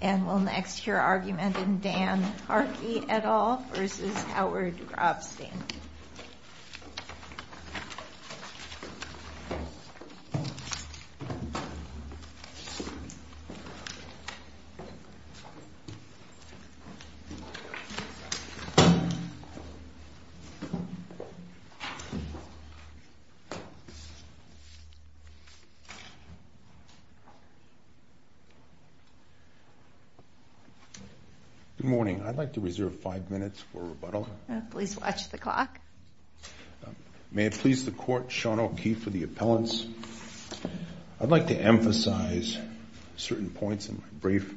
And we'll next hear argument in Dan Harkey et al. v. Howard Grobstein. Good morning. I'd like to reserve five minutes for rebuttal. Please watch the clock. May it please the Court, Sean O'Keefe for the appellants. I'd like to emphasize certain points in my brief.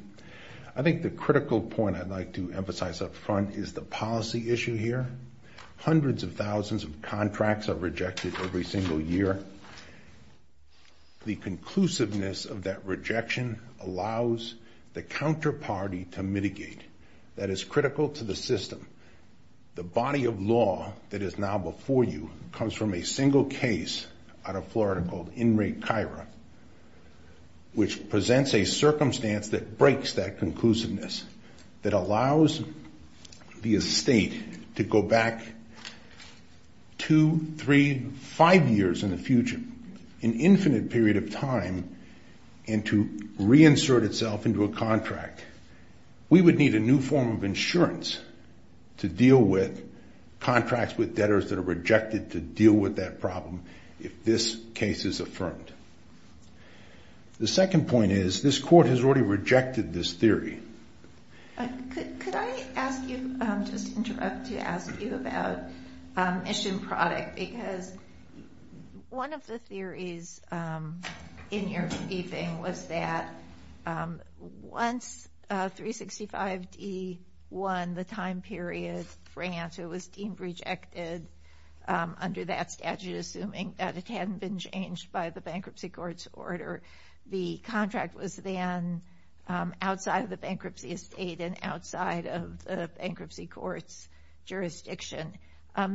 I think the critical point I'd like to emphasize up front is the policy issue here. Hundreds of thousands of contracts are rejected every single year. The conclusiveness of that rejection allows the counterparty to mitigate. That is critical to the system. The body of law that is now before you comes from a single case out of Florida called Inmate Chira, which presents a circumstance that breaks that conclusiveness, that allows the estate to go back two, three, five years in the future, an infinite period of time, and to reinsert itself into a contract. We would need a new form of insurance to deal with contracts with debtors that are rejected to deal with that problem if this case is affirmed. The second point is this Court has already rejected this theory. Could I just interrupt to ask you about mission product? Because one of the theories in your briefing was that once 365d won the time period grant, it was deemed rejected under that statute, assuming that it hadn't been changed by the bankruptcy court's order. The contract was then outside of the bankruptcy estate and outside of the bankruptcy court's jurisdiction.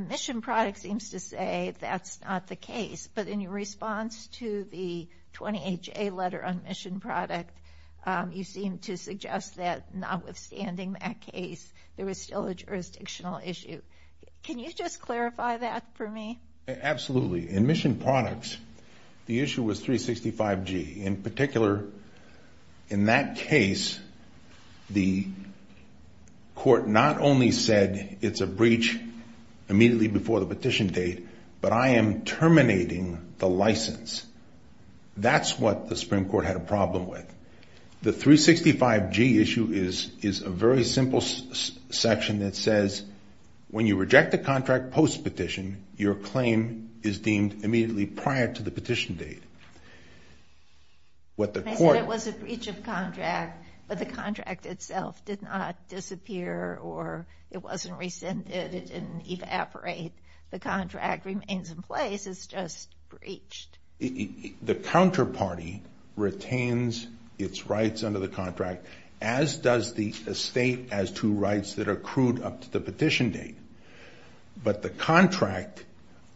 Mission product seems to say that's not the case, but in your response to the 20HA letter on mission product, you seem to suggest that notwithstanding that case, there is still a jurisdictional issue. Can you just clarify that for me? Absolutely. In mission products, the issue was 365g. In particular, in that case, the court not only said it's a breach immediately before the petition date, but I am terminating the license. That's what the Supreme Court had a problem with. The 365g issue is a very simple section that says when you reject a contract post-petition, your claim is deemed immediately prior to the petition date. I said it was a breach of contract, but the contract itself did not disappear or it wasn't rescinded. It didn't evaporate. The contract remains in place. It's just breached. The counterparty retains its rights under the contract, as does the estate has two rights that are accrued up to the petition date. But the contract,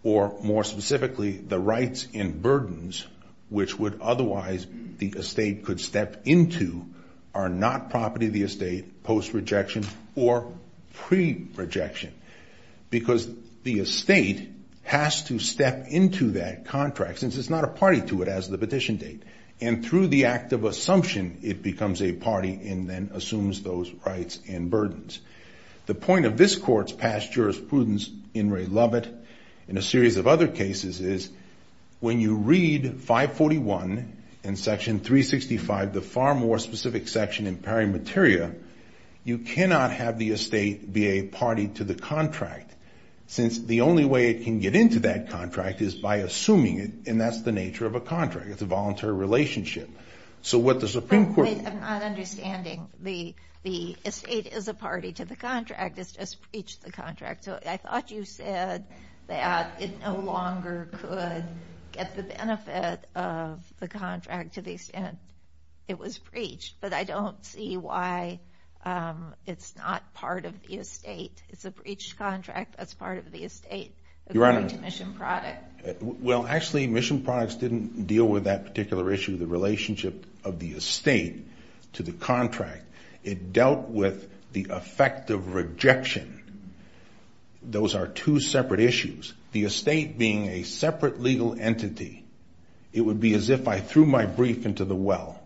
or more specifically, the rights and burdens which would otherwise the estate could step into, are not property of the estate post-rejection or pre-rejection because the estate has to step into that contract since it's not a party to it as the petition date. And through the act of assumption, it becomes a party and then assumes those rights and burdens. The point of this Court's past jurisprudence in Ray Lovett and a series of other cases is when you read 541 in section 365, the far more specific section in pari materia, you cannot have the estate be a party to the contract since the only way it can get into that contract is by assuming it, and that's the nature of a contract. It's a voluntary relationship. So what the Supreme Court— I'm not understanding. The estate is a party to the contract. It's just breached the contract. So I thought you said that it no longer could get the benefit of the contract to the extent it was breached, but I don't see why it's not part of the estate. It's a breached contract. That's part of the estate according to mission product. Well, actually, mission products didn't deal with that particular issue, the relationship of the estate to the contract. It dealt with the effect of rejection. Those are two separate issues. The estate being a separate legal entity, it would be as if I threw my brief into the well.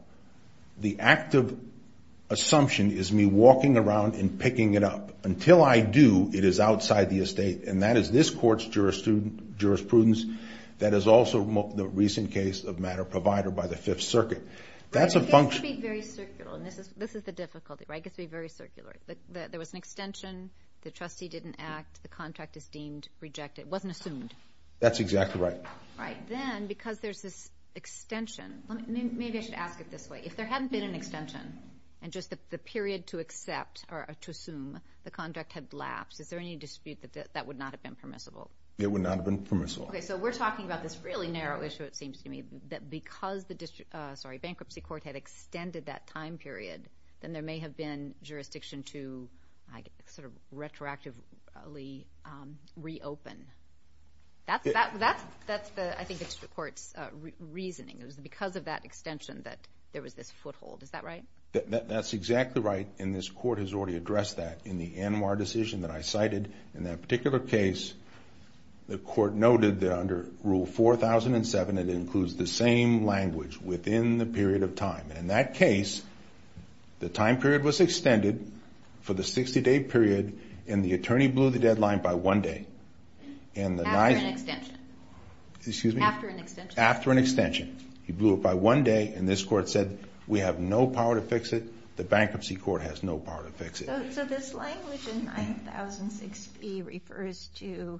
The active assumption is me walking around and picking it up. Until I do, it is outside the estate, and that is this Court's jurisprudence. That is also the recent case of matter provider by the Fifth Circuit. That's a function— It gets to be very circular, and this is the difficulty, right? It gets to be very circular. There was an extension. The trustee didn't act. The contract is deemed rejected. It wasn't assumed. That's exactly right. Then, because there's this extension—maybe I should ask it this way. If there hadn't been an extension and just the period to accept or to assume the contract had lapsed, is there any dispute that that would not have been permissible? It would not have been permissible. Okay, so we're talking about this really narrow issue, it seems to me, that because the bankruptcy court had extended that time period, then there may have been jurisdiction to sort of retroactively reopen. That's the—I think that's the Court's reasoning. It was because of that extension that there was this foothold. Is that right? That's exactly right, and this Court has already addressed that in the ANWR decision that I cited. In that particular case, the Court noted that under Rule 4007, it includes the same language within the period of time. And in that case, the time period was extended for the 60-day period, and the attorney blew the deadline by one day. After an extension. Excuse me? After an extension. After an extension. He blew it by one day, and this Court said, we have no power to fix it, the bankruptcy court has no power to fix it. So this language in 9006B refers to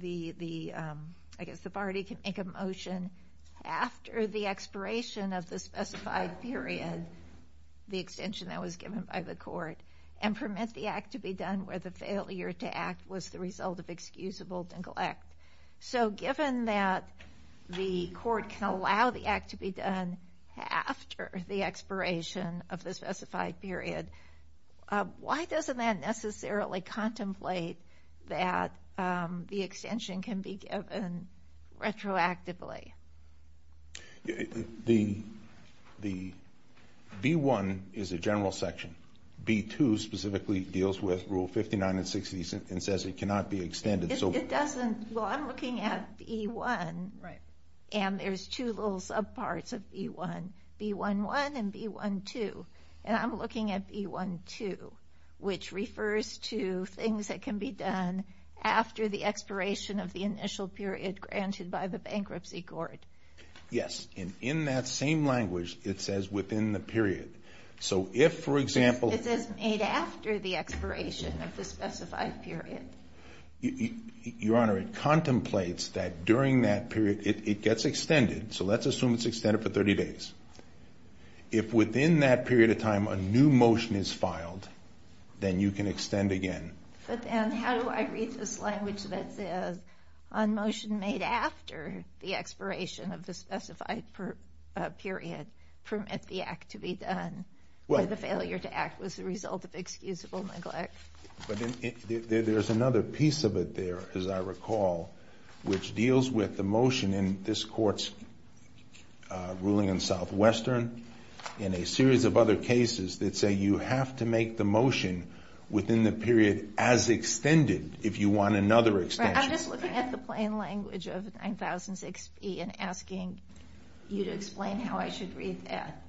the—I guess the party can make a motion after the expiration of the specified period, the extension that was given by the Court, and permit the act to be done where the failure to act was the result of excusable neglect. So given that the Court can allow the act to be done after the expiration of the specified period, why doesn't that necessarily contemplate that the extension can be given retroactively? The B-1 is a general section. B-2 specifically deals with Rule 59 and 60 and says it cannot be extended. It doesn't—well, I'm looking at B-1, and there's two little subparts of B-1, B-1-1 and B-1-2. And I'm looking at B-1-2, which refers to things that can be done after the expiration of the initial period granted by the bankruptcy court. Yes, and in that same language, it says within the period. So if, for example— It says made after the expiration of the specified period. Your Honor, it contemplates that during that period, it gets extended. So let's assume it's extended for 30 days. If within that period of time a new motion is filed, then you can extend again. But then how do I read this language that says, on motion made after the expiration of the specified period, permit the act to be done or the failure to act was the result of excusable neglect? But there's another piece of it there, as I recall, which deals with the motion in this Court's ruling in Southwestern and a series of other cases that say you have to make the motion within the period as extended if you want another extension. I'm just looking at the plain language of 9006B and asking you to explain how I should read that.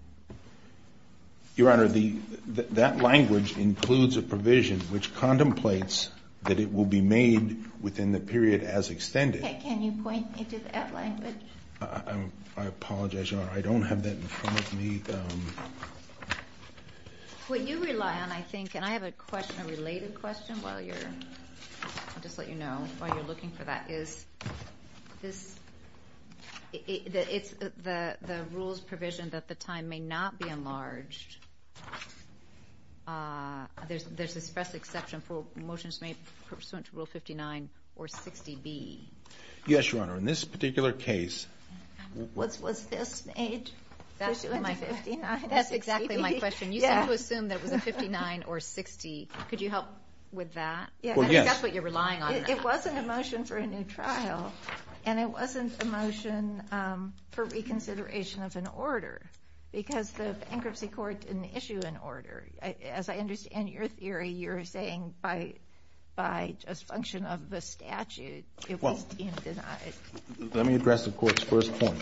Your Honor, that language includes a provision which contemplates that it will be made within the period as extended. Can you point me to that language? I apologize, Your Honor. I don't have that in front of me. What you rely on, I think—and I have a question, a related question while you're— I'll just let you know while you're looking for that. It's the rules provision that the time may not be enlarged. There's this express exception for motions made pursuant to Rule 59 or 60B. Yes, Your Honor. In this particular case— Was this made pursuant to 59 or 60B? That's exactly my question. You seem to assume that it was a 59 or 60. Could you help with that? Well, yes. I think that's what you're relying on. It wasn't a motion for a new trial, and it wasn't a motion for reconsideration of an order because the bankruptcy court didn't issue an order. As I understand your theory, you're saying by just function of the statute, it was deemed denied. Let me address the Court's first point.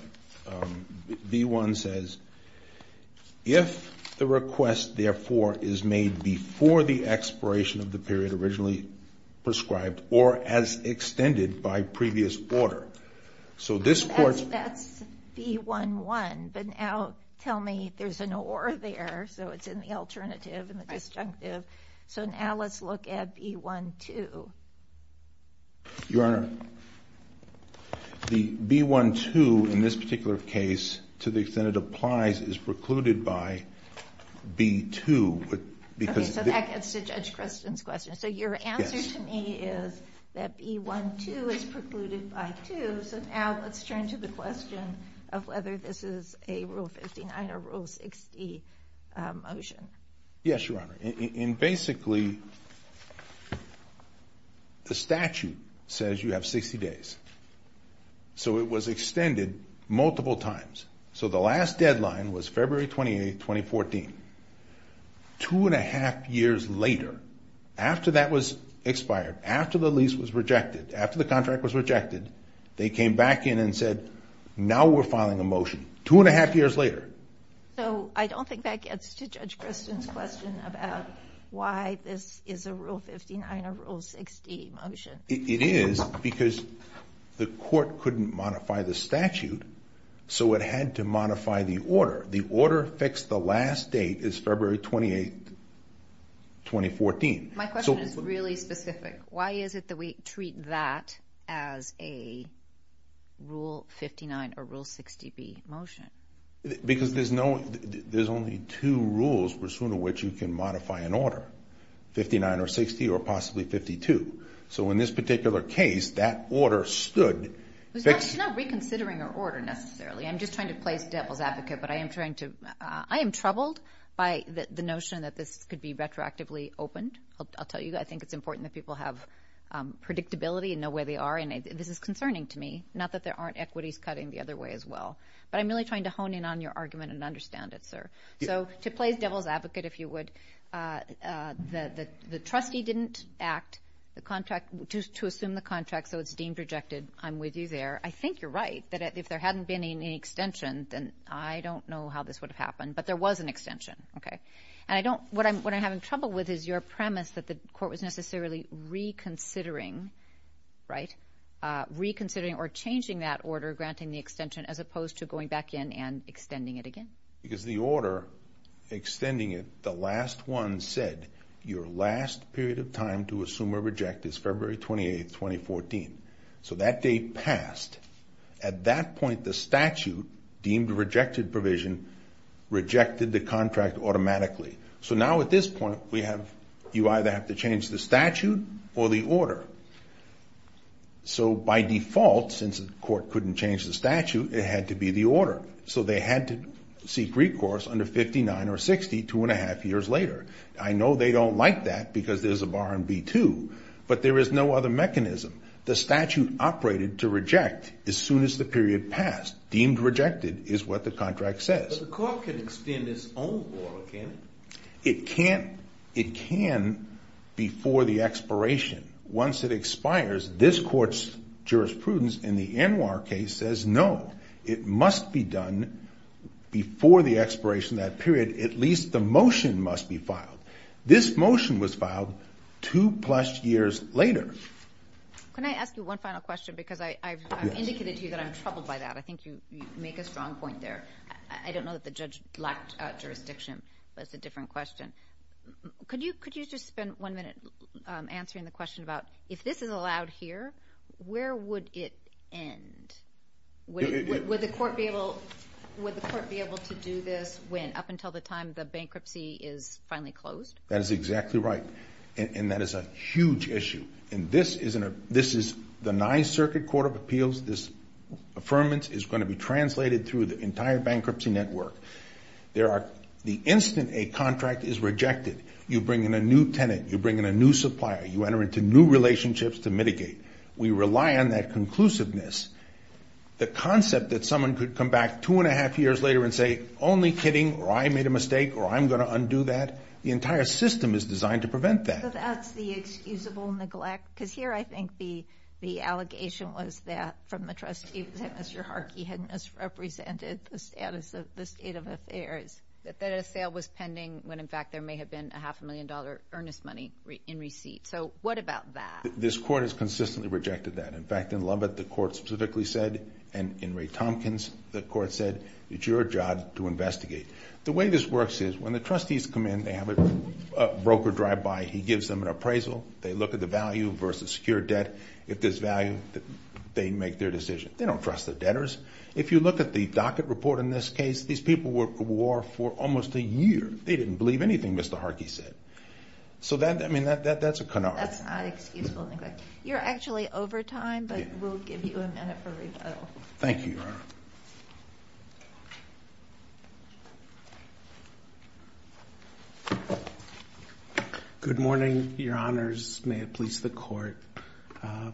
B-1 says, if the request, therefore, is made before the expiration of the period originally prescribed or as extended by previous order, so this Court's— Don't tell me there's an or there, so it's in the alternative and the disjunctive. So now let's look at B-1-2. Your Honor, the B-1-2 in this particular case, to the extent it applies, is precluded by B-2. Okay, so that gets to Judge Creston's question. So your answer to me is that B-1-2 is precluded by 2. So now let's turn to the question of whether this is a Rule 59 or Rule 60 motion. Yes, Your Honor. And basically, the statute says you have 60 days. So it was extended multiple times. So the last deadline was February 28, 2014. Two and a half years later, after that was expired, after the lease was rejected, after the contract was rejected, they came back in and said, now we're filing a motion two and a half years later. So I don't think that gets to Judge Creston's question about why this is a Rule 59 or Rule 60 motion. It is because the Court couldn't modify the statute, so it had to modify the order. The order fixed the last date is February 28, 2014. My question is really specific. Why is it that we treat that as a Rule 59 or Rule 60B motion? Because there's only two rules pursuant to which you can modify an order, 59 or 60 or possibly 52. So in this particular case, that order stood. It's not reconsidering an order necessarily. I'm just trying to play devil's advocate, but I am troubled by the notion that this could be retroactively opened. I'll tell you, I think it's important that people have predictability and know where they are, and this is concerning to me, not that there aren't equities cutting the other way as well. But I'm really trying to hone in on your argument and understand it, sir. So to play devil's advocate, if you would, the trustee didn't act to assume the contract, so it's deemed rejected. I'm with you there. I think you're right that if there hadn't been any extension, then I don't know how this would have happened. But there was an extension, okay? And what I'm having trouble with is your premise that the court was necessarily reconsidering, right, reconsidering or changing that order granting the extension as opposed to going back in and extending it again. Because the order extending it, the last one said your last period of time to assume or reject is February 28th, 2014. So that date passed. At that point, the statute deemed rejected provision rejected the contract automatically. So now at this point, you either have to change the statute or the order. So by default, since the court couldn't change the statute, it had to be the order. So they had to seek recourse under 59 or 60 two and a half years later. I know they don't like that because there's a bar in B-2, but there is no other mechanism. The statute operated to reject as soon as the period passed. Deemed rejected is what the contract says. But the court can extend its own order, can't it? It can before the expiration. Once it expires, this court's jurisprudence in the ANWR case says no, it must be done before the expiration of that period. At least the motion must be filed. This motion was filed two plus years later. Can I ask you one final question because I've indicated to you that I'm troubled by that. I think you make a strong point there. I don't know that the judge lacked jurisdiction, but it's a different question. Could you just spend one minute answering the question about if this is allowed here, where would it end? Would the court be able to do this up until the time the bankruptcy is finally closed? That is exactly right. And that is a huge issue. And this is the Ninth Circuit Court of Appeals. This affirmation is going to be translated through the entire bankruptcy network. The instant a contract is rejected, you bring in a new tenant. You bring in a new supplier. You enter into new relationships to mitigate. We rely on that conclusiveness. The concept that someone could come back two and a half years later and say, only kidding, or I made a mistake, or I'm going to undo that, the entire system is designed to prevent that. So that's the excusable neglect? Because here I think the allegation was that from the trustee was that Mr. Harkey had misrepresented the status of the state of affairs, that a sale was pending when, in fact, there may have been a half-a-million-dollar earnest money in receipt. So what about that? This court has consistently rejected that. In fact, in Lubbock, the court specifically said, and in Ray Tompkins, the court said, it's your job to investigate. The way this works is when the trustees come in, they have a broker drive by. He gives them an appraisal. They look at the value versus secure debt. If there's value, they make their decision. They don't trust the debtors. If you look at the docket report in this case, these people were at war for almost a year. They didn't believe anything Mr. Harkey said. So that's a canard. That's not excusable neglect. You're actually over time, but we'll give you a minute for rebuttal. Thank you, Your Honor. Good morning, Your Honors. May it please the court.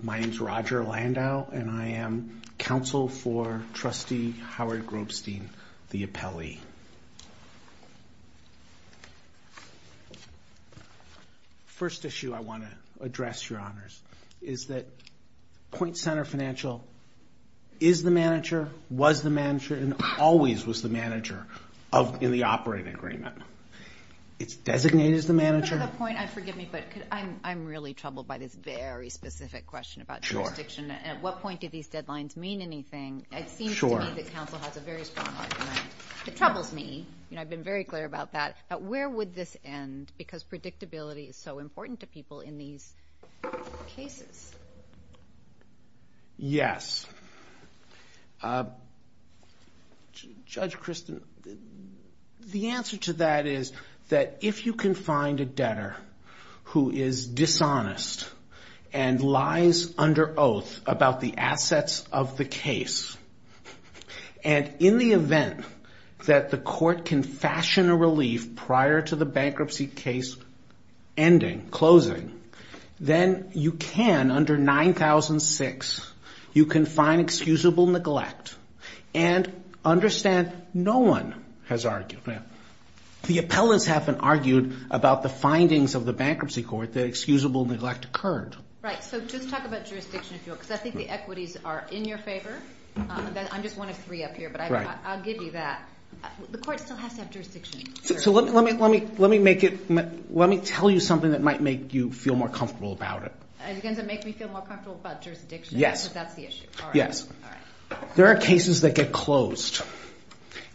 My name is Roger Landau, and I am counsel for Trustee Howard Grobstein, the appellee. Thank you. First issue I want to address, Your Honors, is that Point Center Financial is the manager, was the manager, and always was the manager in the operating agreement. It's designated as the manager. For the point, forgive me, but I'm really troubled by this very specific question about jurisdiction. At what point do these deadlines mean anything? It seems to me that counsel has a very strong argument. It troubles me, and I've been very clear about that, but where would this end because predictability is so important to people in these cases? Yes. Judge Kristen, the answer to that is that if you can find a debtor who is dishonest and lies under oath about the assets of the case, and in the event that the court can fashion a relief prior to the bankruptcy case ending, closing, then you can, under 9006, you can find excusable neglect and understand no one has argued. The appellants haven't argued about the findings of the bankruptcy court that excusable neglect occurred. Right. So just talk about jurisdiction, because I think the equities are in your favor. I'm just one of three up here, but I'll give you that. The court still has to have jurisdiction. So let me tell you something that might make you feel more comfortable about it. Are you going to make me feel more comfortable about jurisdiction? Yes. Because that's the issue. Yes. There are cases that get closed,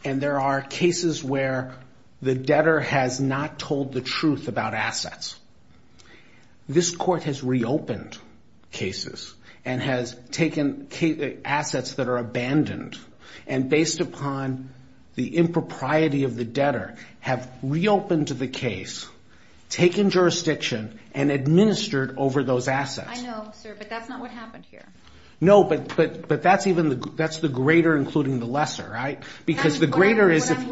and there are cases where the debtor has not told the truth about assets. This court has reopened cases and has taken assets that are abandoned, and based upon the impropriety of the debtor, have reopened the case, taken jurisdiction, and administered over those assets. I know, sir, but that's not what happened here. No, but that's the greater including the lesser, right? What I'm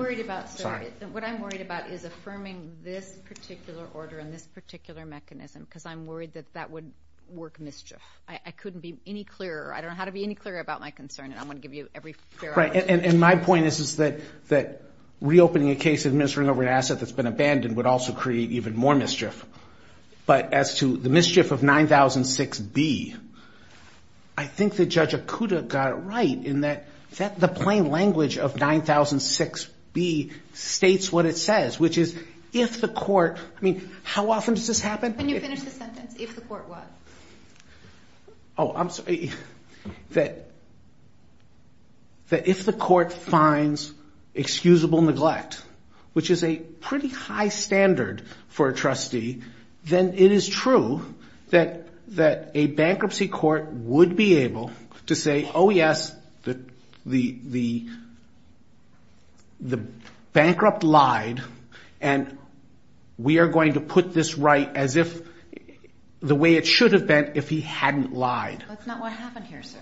worried about is affirming this particular order and this particular mechanism, because I'm worried that that would work mischief. I couldn't be any clearer. I don't know how to be any clearer about my concern, and I'm going to give you every fair opportunity. And my point is that reopening a case and administering over an asset that's been abandoned would also create even more mischief. But as to the mischief of 9006B, I think that Judge Okuda got it right in that the plain language of 9006B states what it says, which is if the court, I mean, how often does this happen? When you finish the sentence, if the court what? Oh, I'm sorry. That if the court finds excusable neglect, which is a pretty high standard for a trustee, then it is true that a bankruptcy court would be able to say, oh, yes, the bankrupt lied, and we are going to put this right as if the way it should have been if he hadn't lied. That's not what happened here, sir.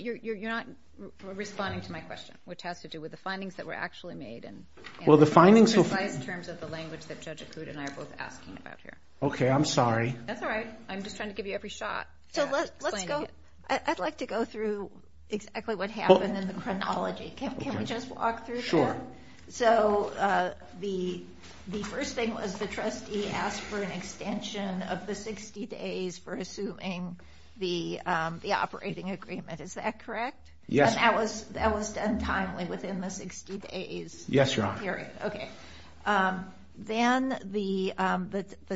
You're not responding to my question, which has to do with the findings that were actually made. Well, the findings. In precise terms of the language that Judge Okuda and I are both asking about here. Okay, I'm sorry. That's all right. I'm just trying to give you every shot at explaining it. So let's go. I'd like to go through exactly what happened in the chronology. Can we just walk through that? Sure. So the first thing was the trustee asked for an extension of the 60 days for assuming the operating agreement. Is that correct? Yes. And that was done timely within the 60 days? Yes, Your Honor. Okay. Then the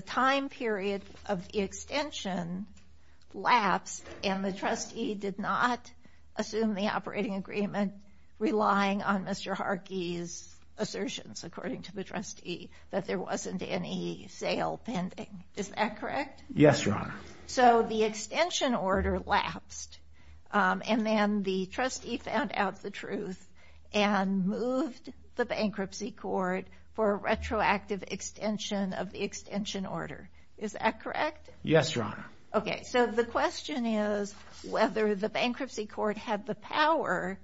time period of the extension lapsed, and the trustee did not assume the operating agreement, relying on Mr. Harkey's assertions, according to the trustee, that there wasn't any sale pending. Is that correct? Yes, Your Honor. So the extension order lapsed, and then the trustee found out the truth and moved the bankruptcy court for a retroactive extension of the extension order. Is that correct? Yes, Your Honor. Okay. So the question is whether the bankruptcy court had the power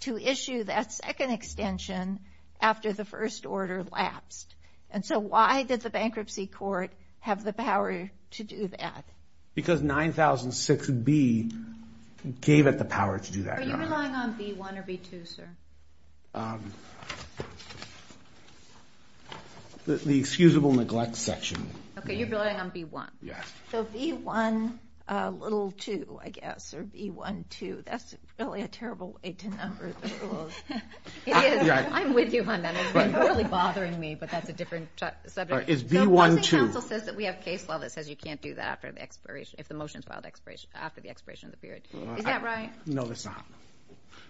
to issue that second extension after the first order lapsed. And so why did the bankruptcy court have the power to do that? Because 9006B gave it the power to do that, Your Honor. Are you relying on B1 or B2, sir? The excusable neglect section. Okay. You're relying on B1. Yes. So B1, little 2, I guess, or B1, 2. That's really a terrible way to number the rules. It is. I'm with you on that. You're really bothering me, but that's a different subject. Is B1, 2. The Housing Council says that we have case law that says you can't do that if the motion is filed after the expiration of the period. Is that right? No, it's not.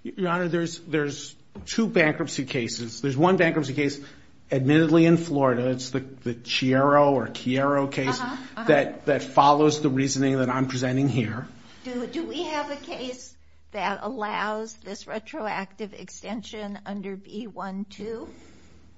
Your Honor, there's two bankruptcy cases. There's one bankruptcy case admittedly in Florida. It's the Chiaro or Chiaro case that follows the reasoning that I'm presenting here. Do we have a case that allows this retroactive extension under B1, 2?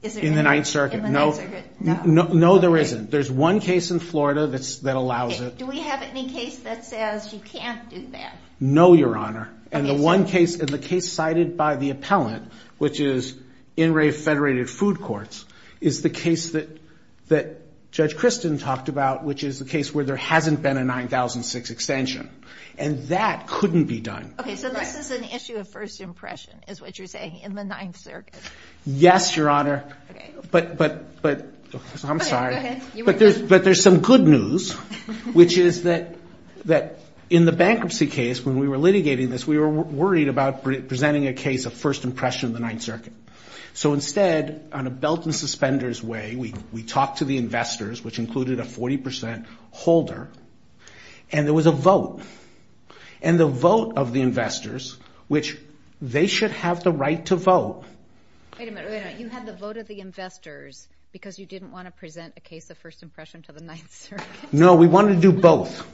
In the Ninth Circuit? In the Ninth Circuit, no. No, there isn't. There's one case in Florida that allows it. Do we have any case that says you can't do that? No, Your Honor. And the one case, and the case cited by the appellant, which is in re-federated food courts, is the case that Judge Christin talked about, which is the case where there hasn't been a 9006 extension. And that couldn't be done. Okay, so this is an issue of first impression, is what you're saying, in the Ninth Circuit. Yes, Your Honor. Okay. I'm sorry. Go ahead. But there's some good news, which is that in the bankruptcy case, when we were litigating this, we were worried about presenting a case of first impression in the Ninth Circuit. So instead, on a belt and suspenders way, we talked to the investors, which included a 40% holder, and there was a vote. And the vote of the investors, which they should have the right to vote. Wait a minute. You had the vote of the investors because you didn't want to present a case of first impression to the Ninth Circuit? No, we wanted to do both.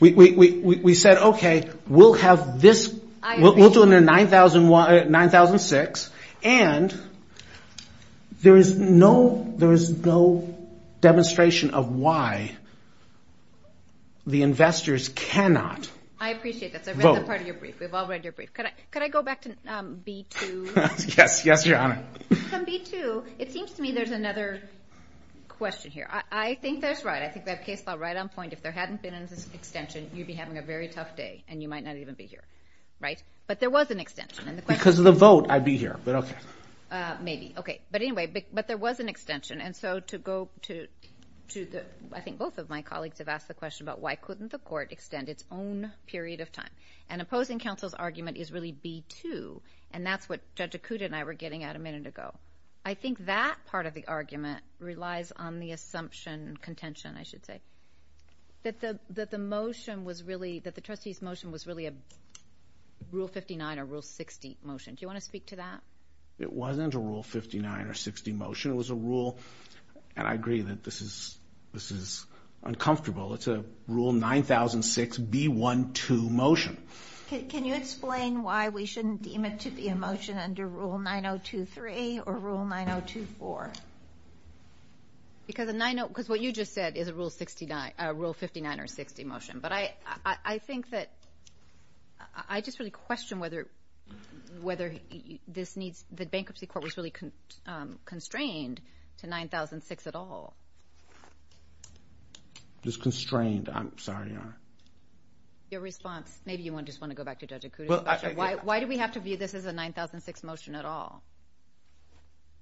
We said, okay, we'll have this. I agree. 9006. And there is no demonstration of why the investors cannot vote. I appreciate that. So I read the part of your brief. We've all read your brief. Could I go back to B2? Yes, Your Honor. From B2, it seems to me there's another question here. I think that's right. I think that case fell right on point. If there hadn't been an extension, you'd be having a very tough day, and you might not even be here. Right? But there was an extension. Because of the vote, I'd be here, but okay. Maybe. Okay. But anyway, but there was an extension. And so to go to the – I think both of my colleagues have asked the question about why couldn't the court extend its own period of time. And opposing counsel's argument is really B2, and that's what Judge Akuta and I were getting at a minute ago. I think that part of the argument relies on the assumption, contention I should say, that the motion was really – that the trustee's motion was really a Rule 59 or Rule 60 motion. Do you want to speak to that? It wasn't a Rule 59 or 60 motion. It was a rule – and I agree that this is uncomfortable. It's a Rule 9006B12 motion. Can you explain why we shouldn't deem it to be a motion under Rule 9023 or Rule 9024? Because what you just said is a Rule 59 or 60 motion. But I think that – I just really question whether this needs – the bankruptcy court was really constrained to 9006 at all. It was constrained. I'm sorry, Your Honor. Your response – maybe you just want to go back to Judge Akuta. Why do we have to view this as a 9006 motion at all?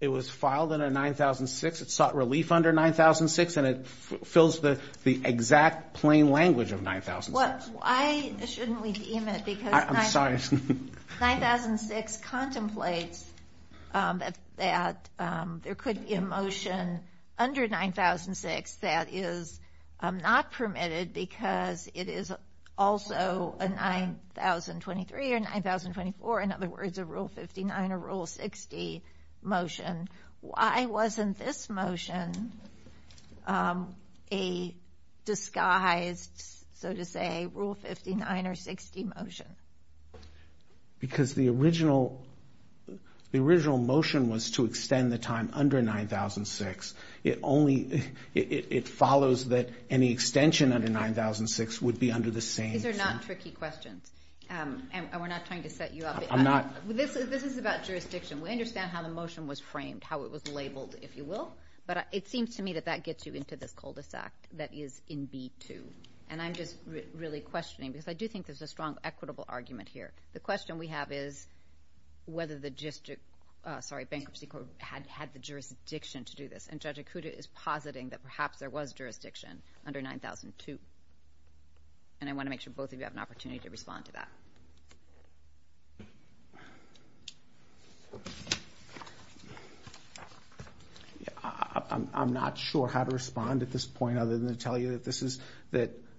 It was filed under 9006. It sought relief under 9006, and it fills the exact plain language of 9006. Why shouldn't we deem it because 9006 contemplates that there could be a motion under 9006 that is not permitted because it is also a 9003 or 9004 – in other words, a Rule 59 or Rule 60 motion? Why wasn't this motion a disguised, so to say, Rule 59 or 60 motion? Because the original motion was to extend the time under 9006. It only – it follows that any extension under 9006 would be under the same – These are not tricky questions, and we're not trying to set you up. I'm not. This is about jurisdiction. We understand how the motion was framed, how it was labeled, if you will. But it seems to me that that gets you into this cul-de-sac that is in B2. And I'm just really questioning because I do think there's a strong equitable argument here. The question we have is whether the district – sorry, Bankruptcy Court had the jurisdiction to do this, and Judge Okuda is positing that perhaps there was jurisdiction under 9002. And I want to make sure both of you have an opportunity to respond to that. I'm not sure how to respond at this point other than to tell you that this is –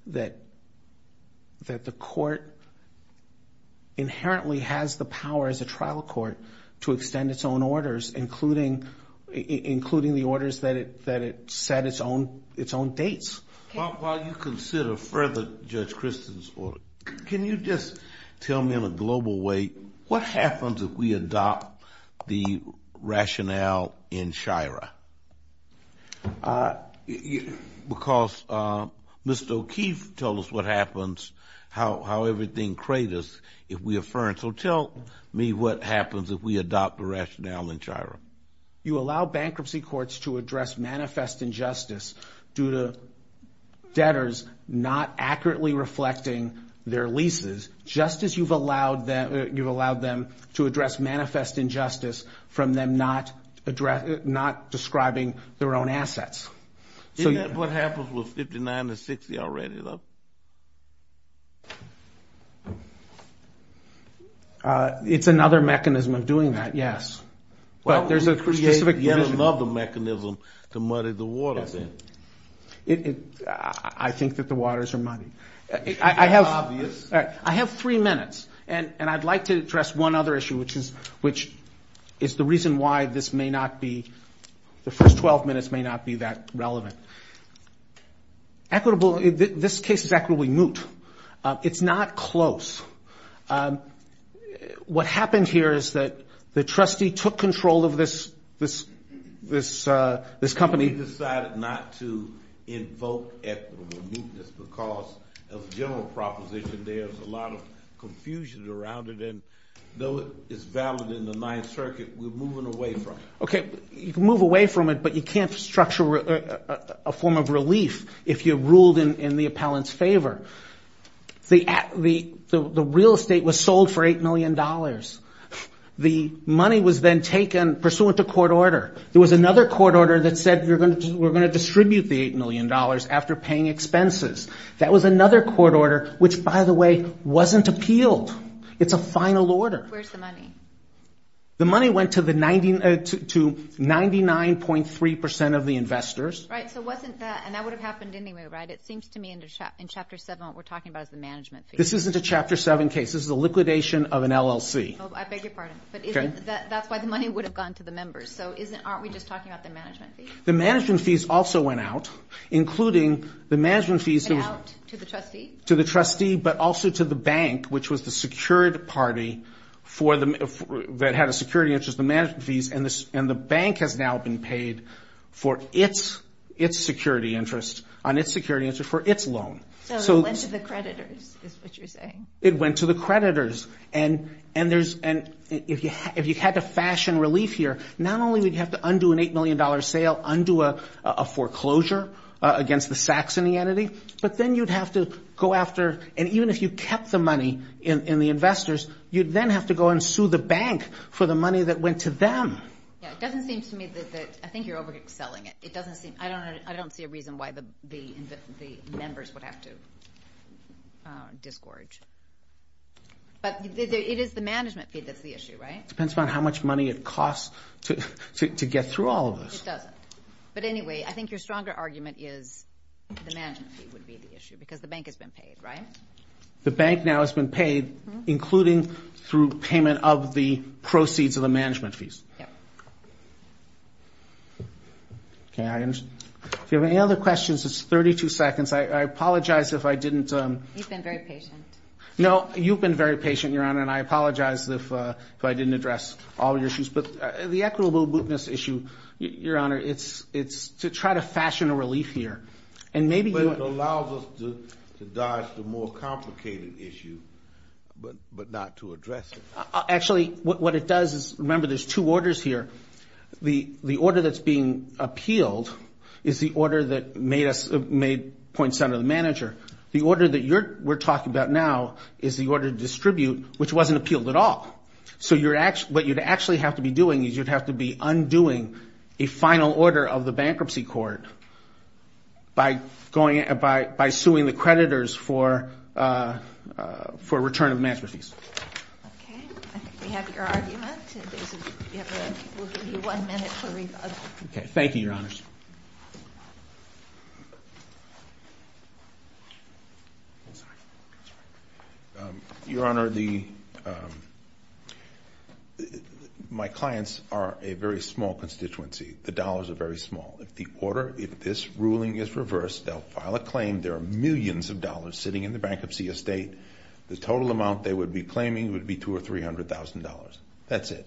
that the court inherently has the power as a trial court to extend its own orders, including the orders that it set its own dates. While you consider further Judge Christin's order, can you just tell me in a global way, what happens if we adopt the rationale in Shira? Because Mr. O'Keefe told us what happens, how everything craters if we affirm. So tell me what happens if we adopt the rationale in Shira. You allow bankruptcy courts to address manifest injustice due to debtors not accurately reflecting their leases, just as you've allowed them to address manifest injustice from them not describing their own assets. Isn't that what happens with 59 to 60 already, though? It's another mechanism of doing that, yes. But there's a specific provision. Well, you create yet another mechanism to muddy the water, then. I think that the waters are muddy. I have three minutes, and I'd like to address one other issue, which is the reason why this may not be – the first 12 minutes may not be that relevant. Equitable – this case is equitably moot. It's not close. What happened here is that the trustee took control of this company. We decided not to invoke equitable mootness because, as a general proposition, there's a lot of confusion around it, and though it's valid in the Ninth Circuit, we're moving away from it. You can move away from it, but you can't structure a form of relief if you ruled in the appellant's favor. The real estate was sold for $8 million. The money was then taken pursuant to court order. There was another court order that said we're going to distribute the $8 million after paying expenses. That was another court order which, by the way, wasn't appealed. It's a final order. Where's the money? The money went to 99.3 percent of the investors. Right, so wasn't that – and that would have happened anyway, right? It seems to me in Chapter 7 what we're talking about is the management fees. This isn't a Chapter 7 case. This is a liquidation of an LLC. I beg your pardon. Okay. But isn't – that's why the money would have gone to the members. So isn't – aren't we just talking about the management fees? The management fees also went out, including the management fees – Went out to the trustee? To the trustee but also to the bank, which was the secured party for the – that had a security interest, the management fees. And the bank has now been paid for its security interest on its security interest for its loan. So it went to the creditors is what you're saying. It went to the creditors. And there's – and if you had to fashion relief here, not only would you have to undo an $8 million sale, undo a foreclosure against the sacks in the entity, but then you'd have to go after – and even if you kept the money in the investors, you'd then have to go and sue the bank for the money that went to them. Yeah, it doesn't seem to me that – I think you're over-excelling it. It doesn't seem – I don't see a reason why the members would have to disgorge. But it is the management fee that's the issue, right? It depends upon how much money it costs to get through all of this. No, it doesn't. But anyway, I think your stronger argument is the management fee would be the issue because the bank has been paid, right? The bank now has been paid, including through payment of the proceeds of the management fees. Yeah. Okay, I understand. If you have any other questions, it's 32 seconds. I apologize if I didn't – You've been very patient. No, you've been very patient, Your Honor, and I apologize if I didn't address all of your issues. But the equitable business issue, Your Honor, it's to try to fashion a relief here. But it allows us to dodge the more complicated issue, but not to address it. Actually, what it does is – remember, there's two orders here. The order that's being appealed is the order that made Point Center the manager. The order that we're talking about now is the order to distribute, which wasn't appealed at all. So what you'd actually have to be doing is you'd have to be undoing a final order of the bankruptcy court by suing the creditors for return of management fees. Okay, I think we have your argument. We'll give you one minute for rebuttal. Okay, thank you, Your Honors. Your Honor, my clients are a very small constituency. The dollars are very small. If this ruling is reversed, they'll file a claim. There are millions of dollars sitting in the bankruptcy estate. The total amount they would be claiming would be $200,000 or $300,000. That's it.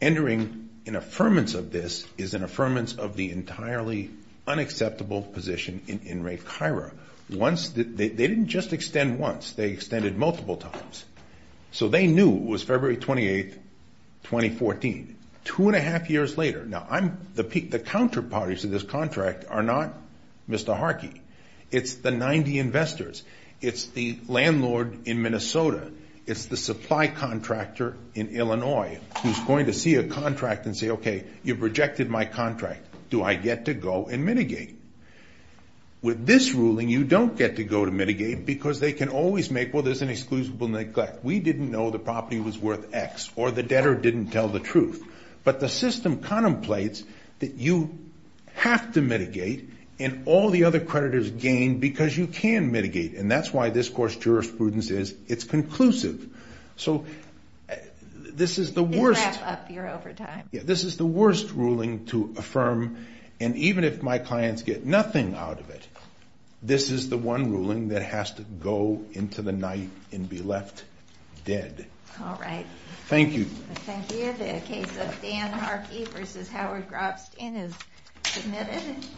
Entering an affirmance of this is an affirmance of the entirely unacceptable position in Ray Kira. They didn't just extend once. They extended multiple times. So they knew it was February 28, 2014. Two and a half years later – now, the counterparties to this contract are not Mr. Harkey. It's the 90 investors. It's the landlord in Minnesota. It's the supply contractor in Illinois who's going to see a contract and say, okay, you've rejected my contract. Do I get to go and mitigate? With this ruling, you don't get to go to mitigate because they can always make, well, there's an exclusible neglect. We didn't know the property was worth X or the debtor didn't tell the truth. But the system contemplates that you have to mitigate, and all the other creditors gain because you can mitigate. And that's why this court's jurisprudence is it's conclusive. So this is the worst – They wrap up your overtime. Yeah, this is the worst ruling to affirm, and even if my clients get nothing out of it, this is the one ruling that has to go into the night and be left dead. All right. Thank you. Thank you. The case of Dan Harkey v. Howard Grobstein is submitted.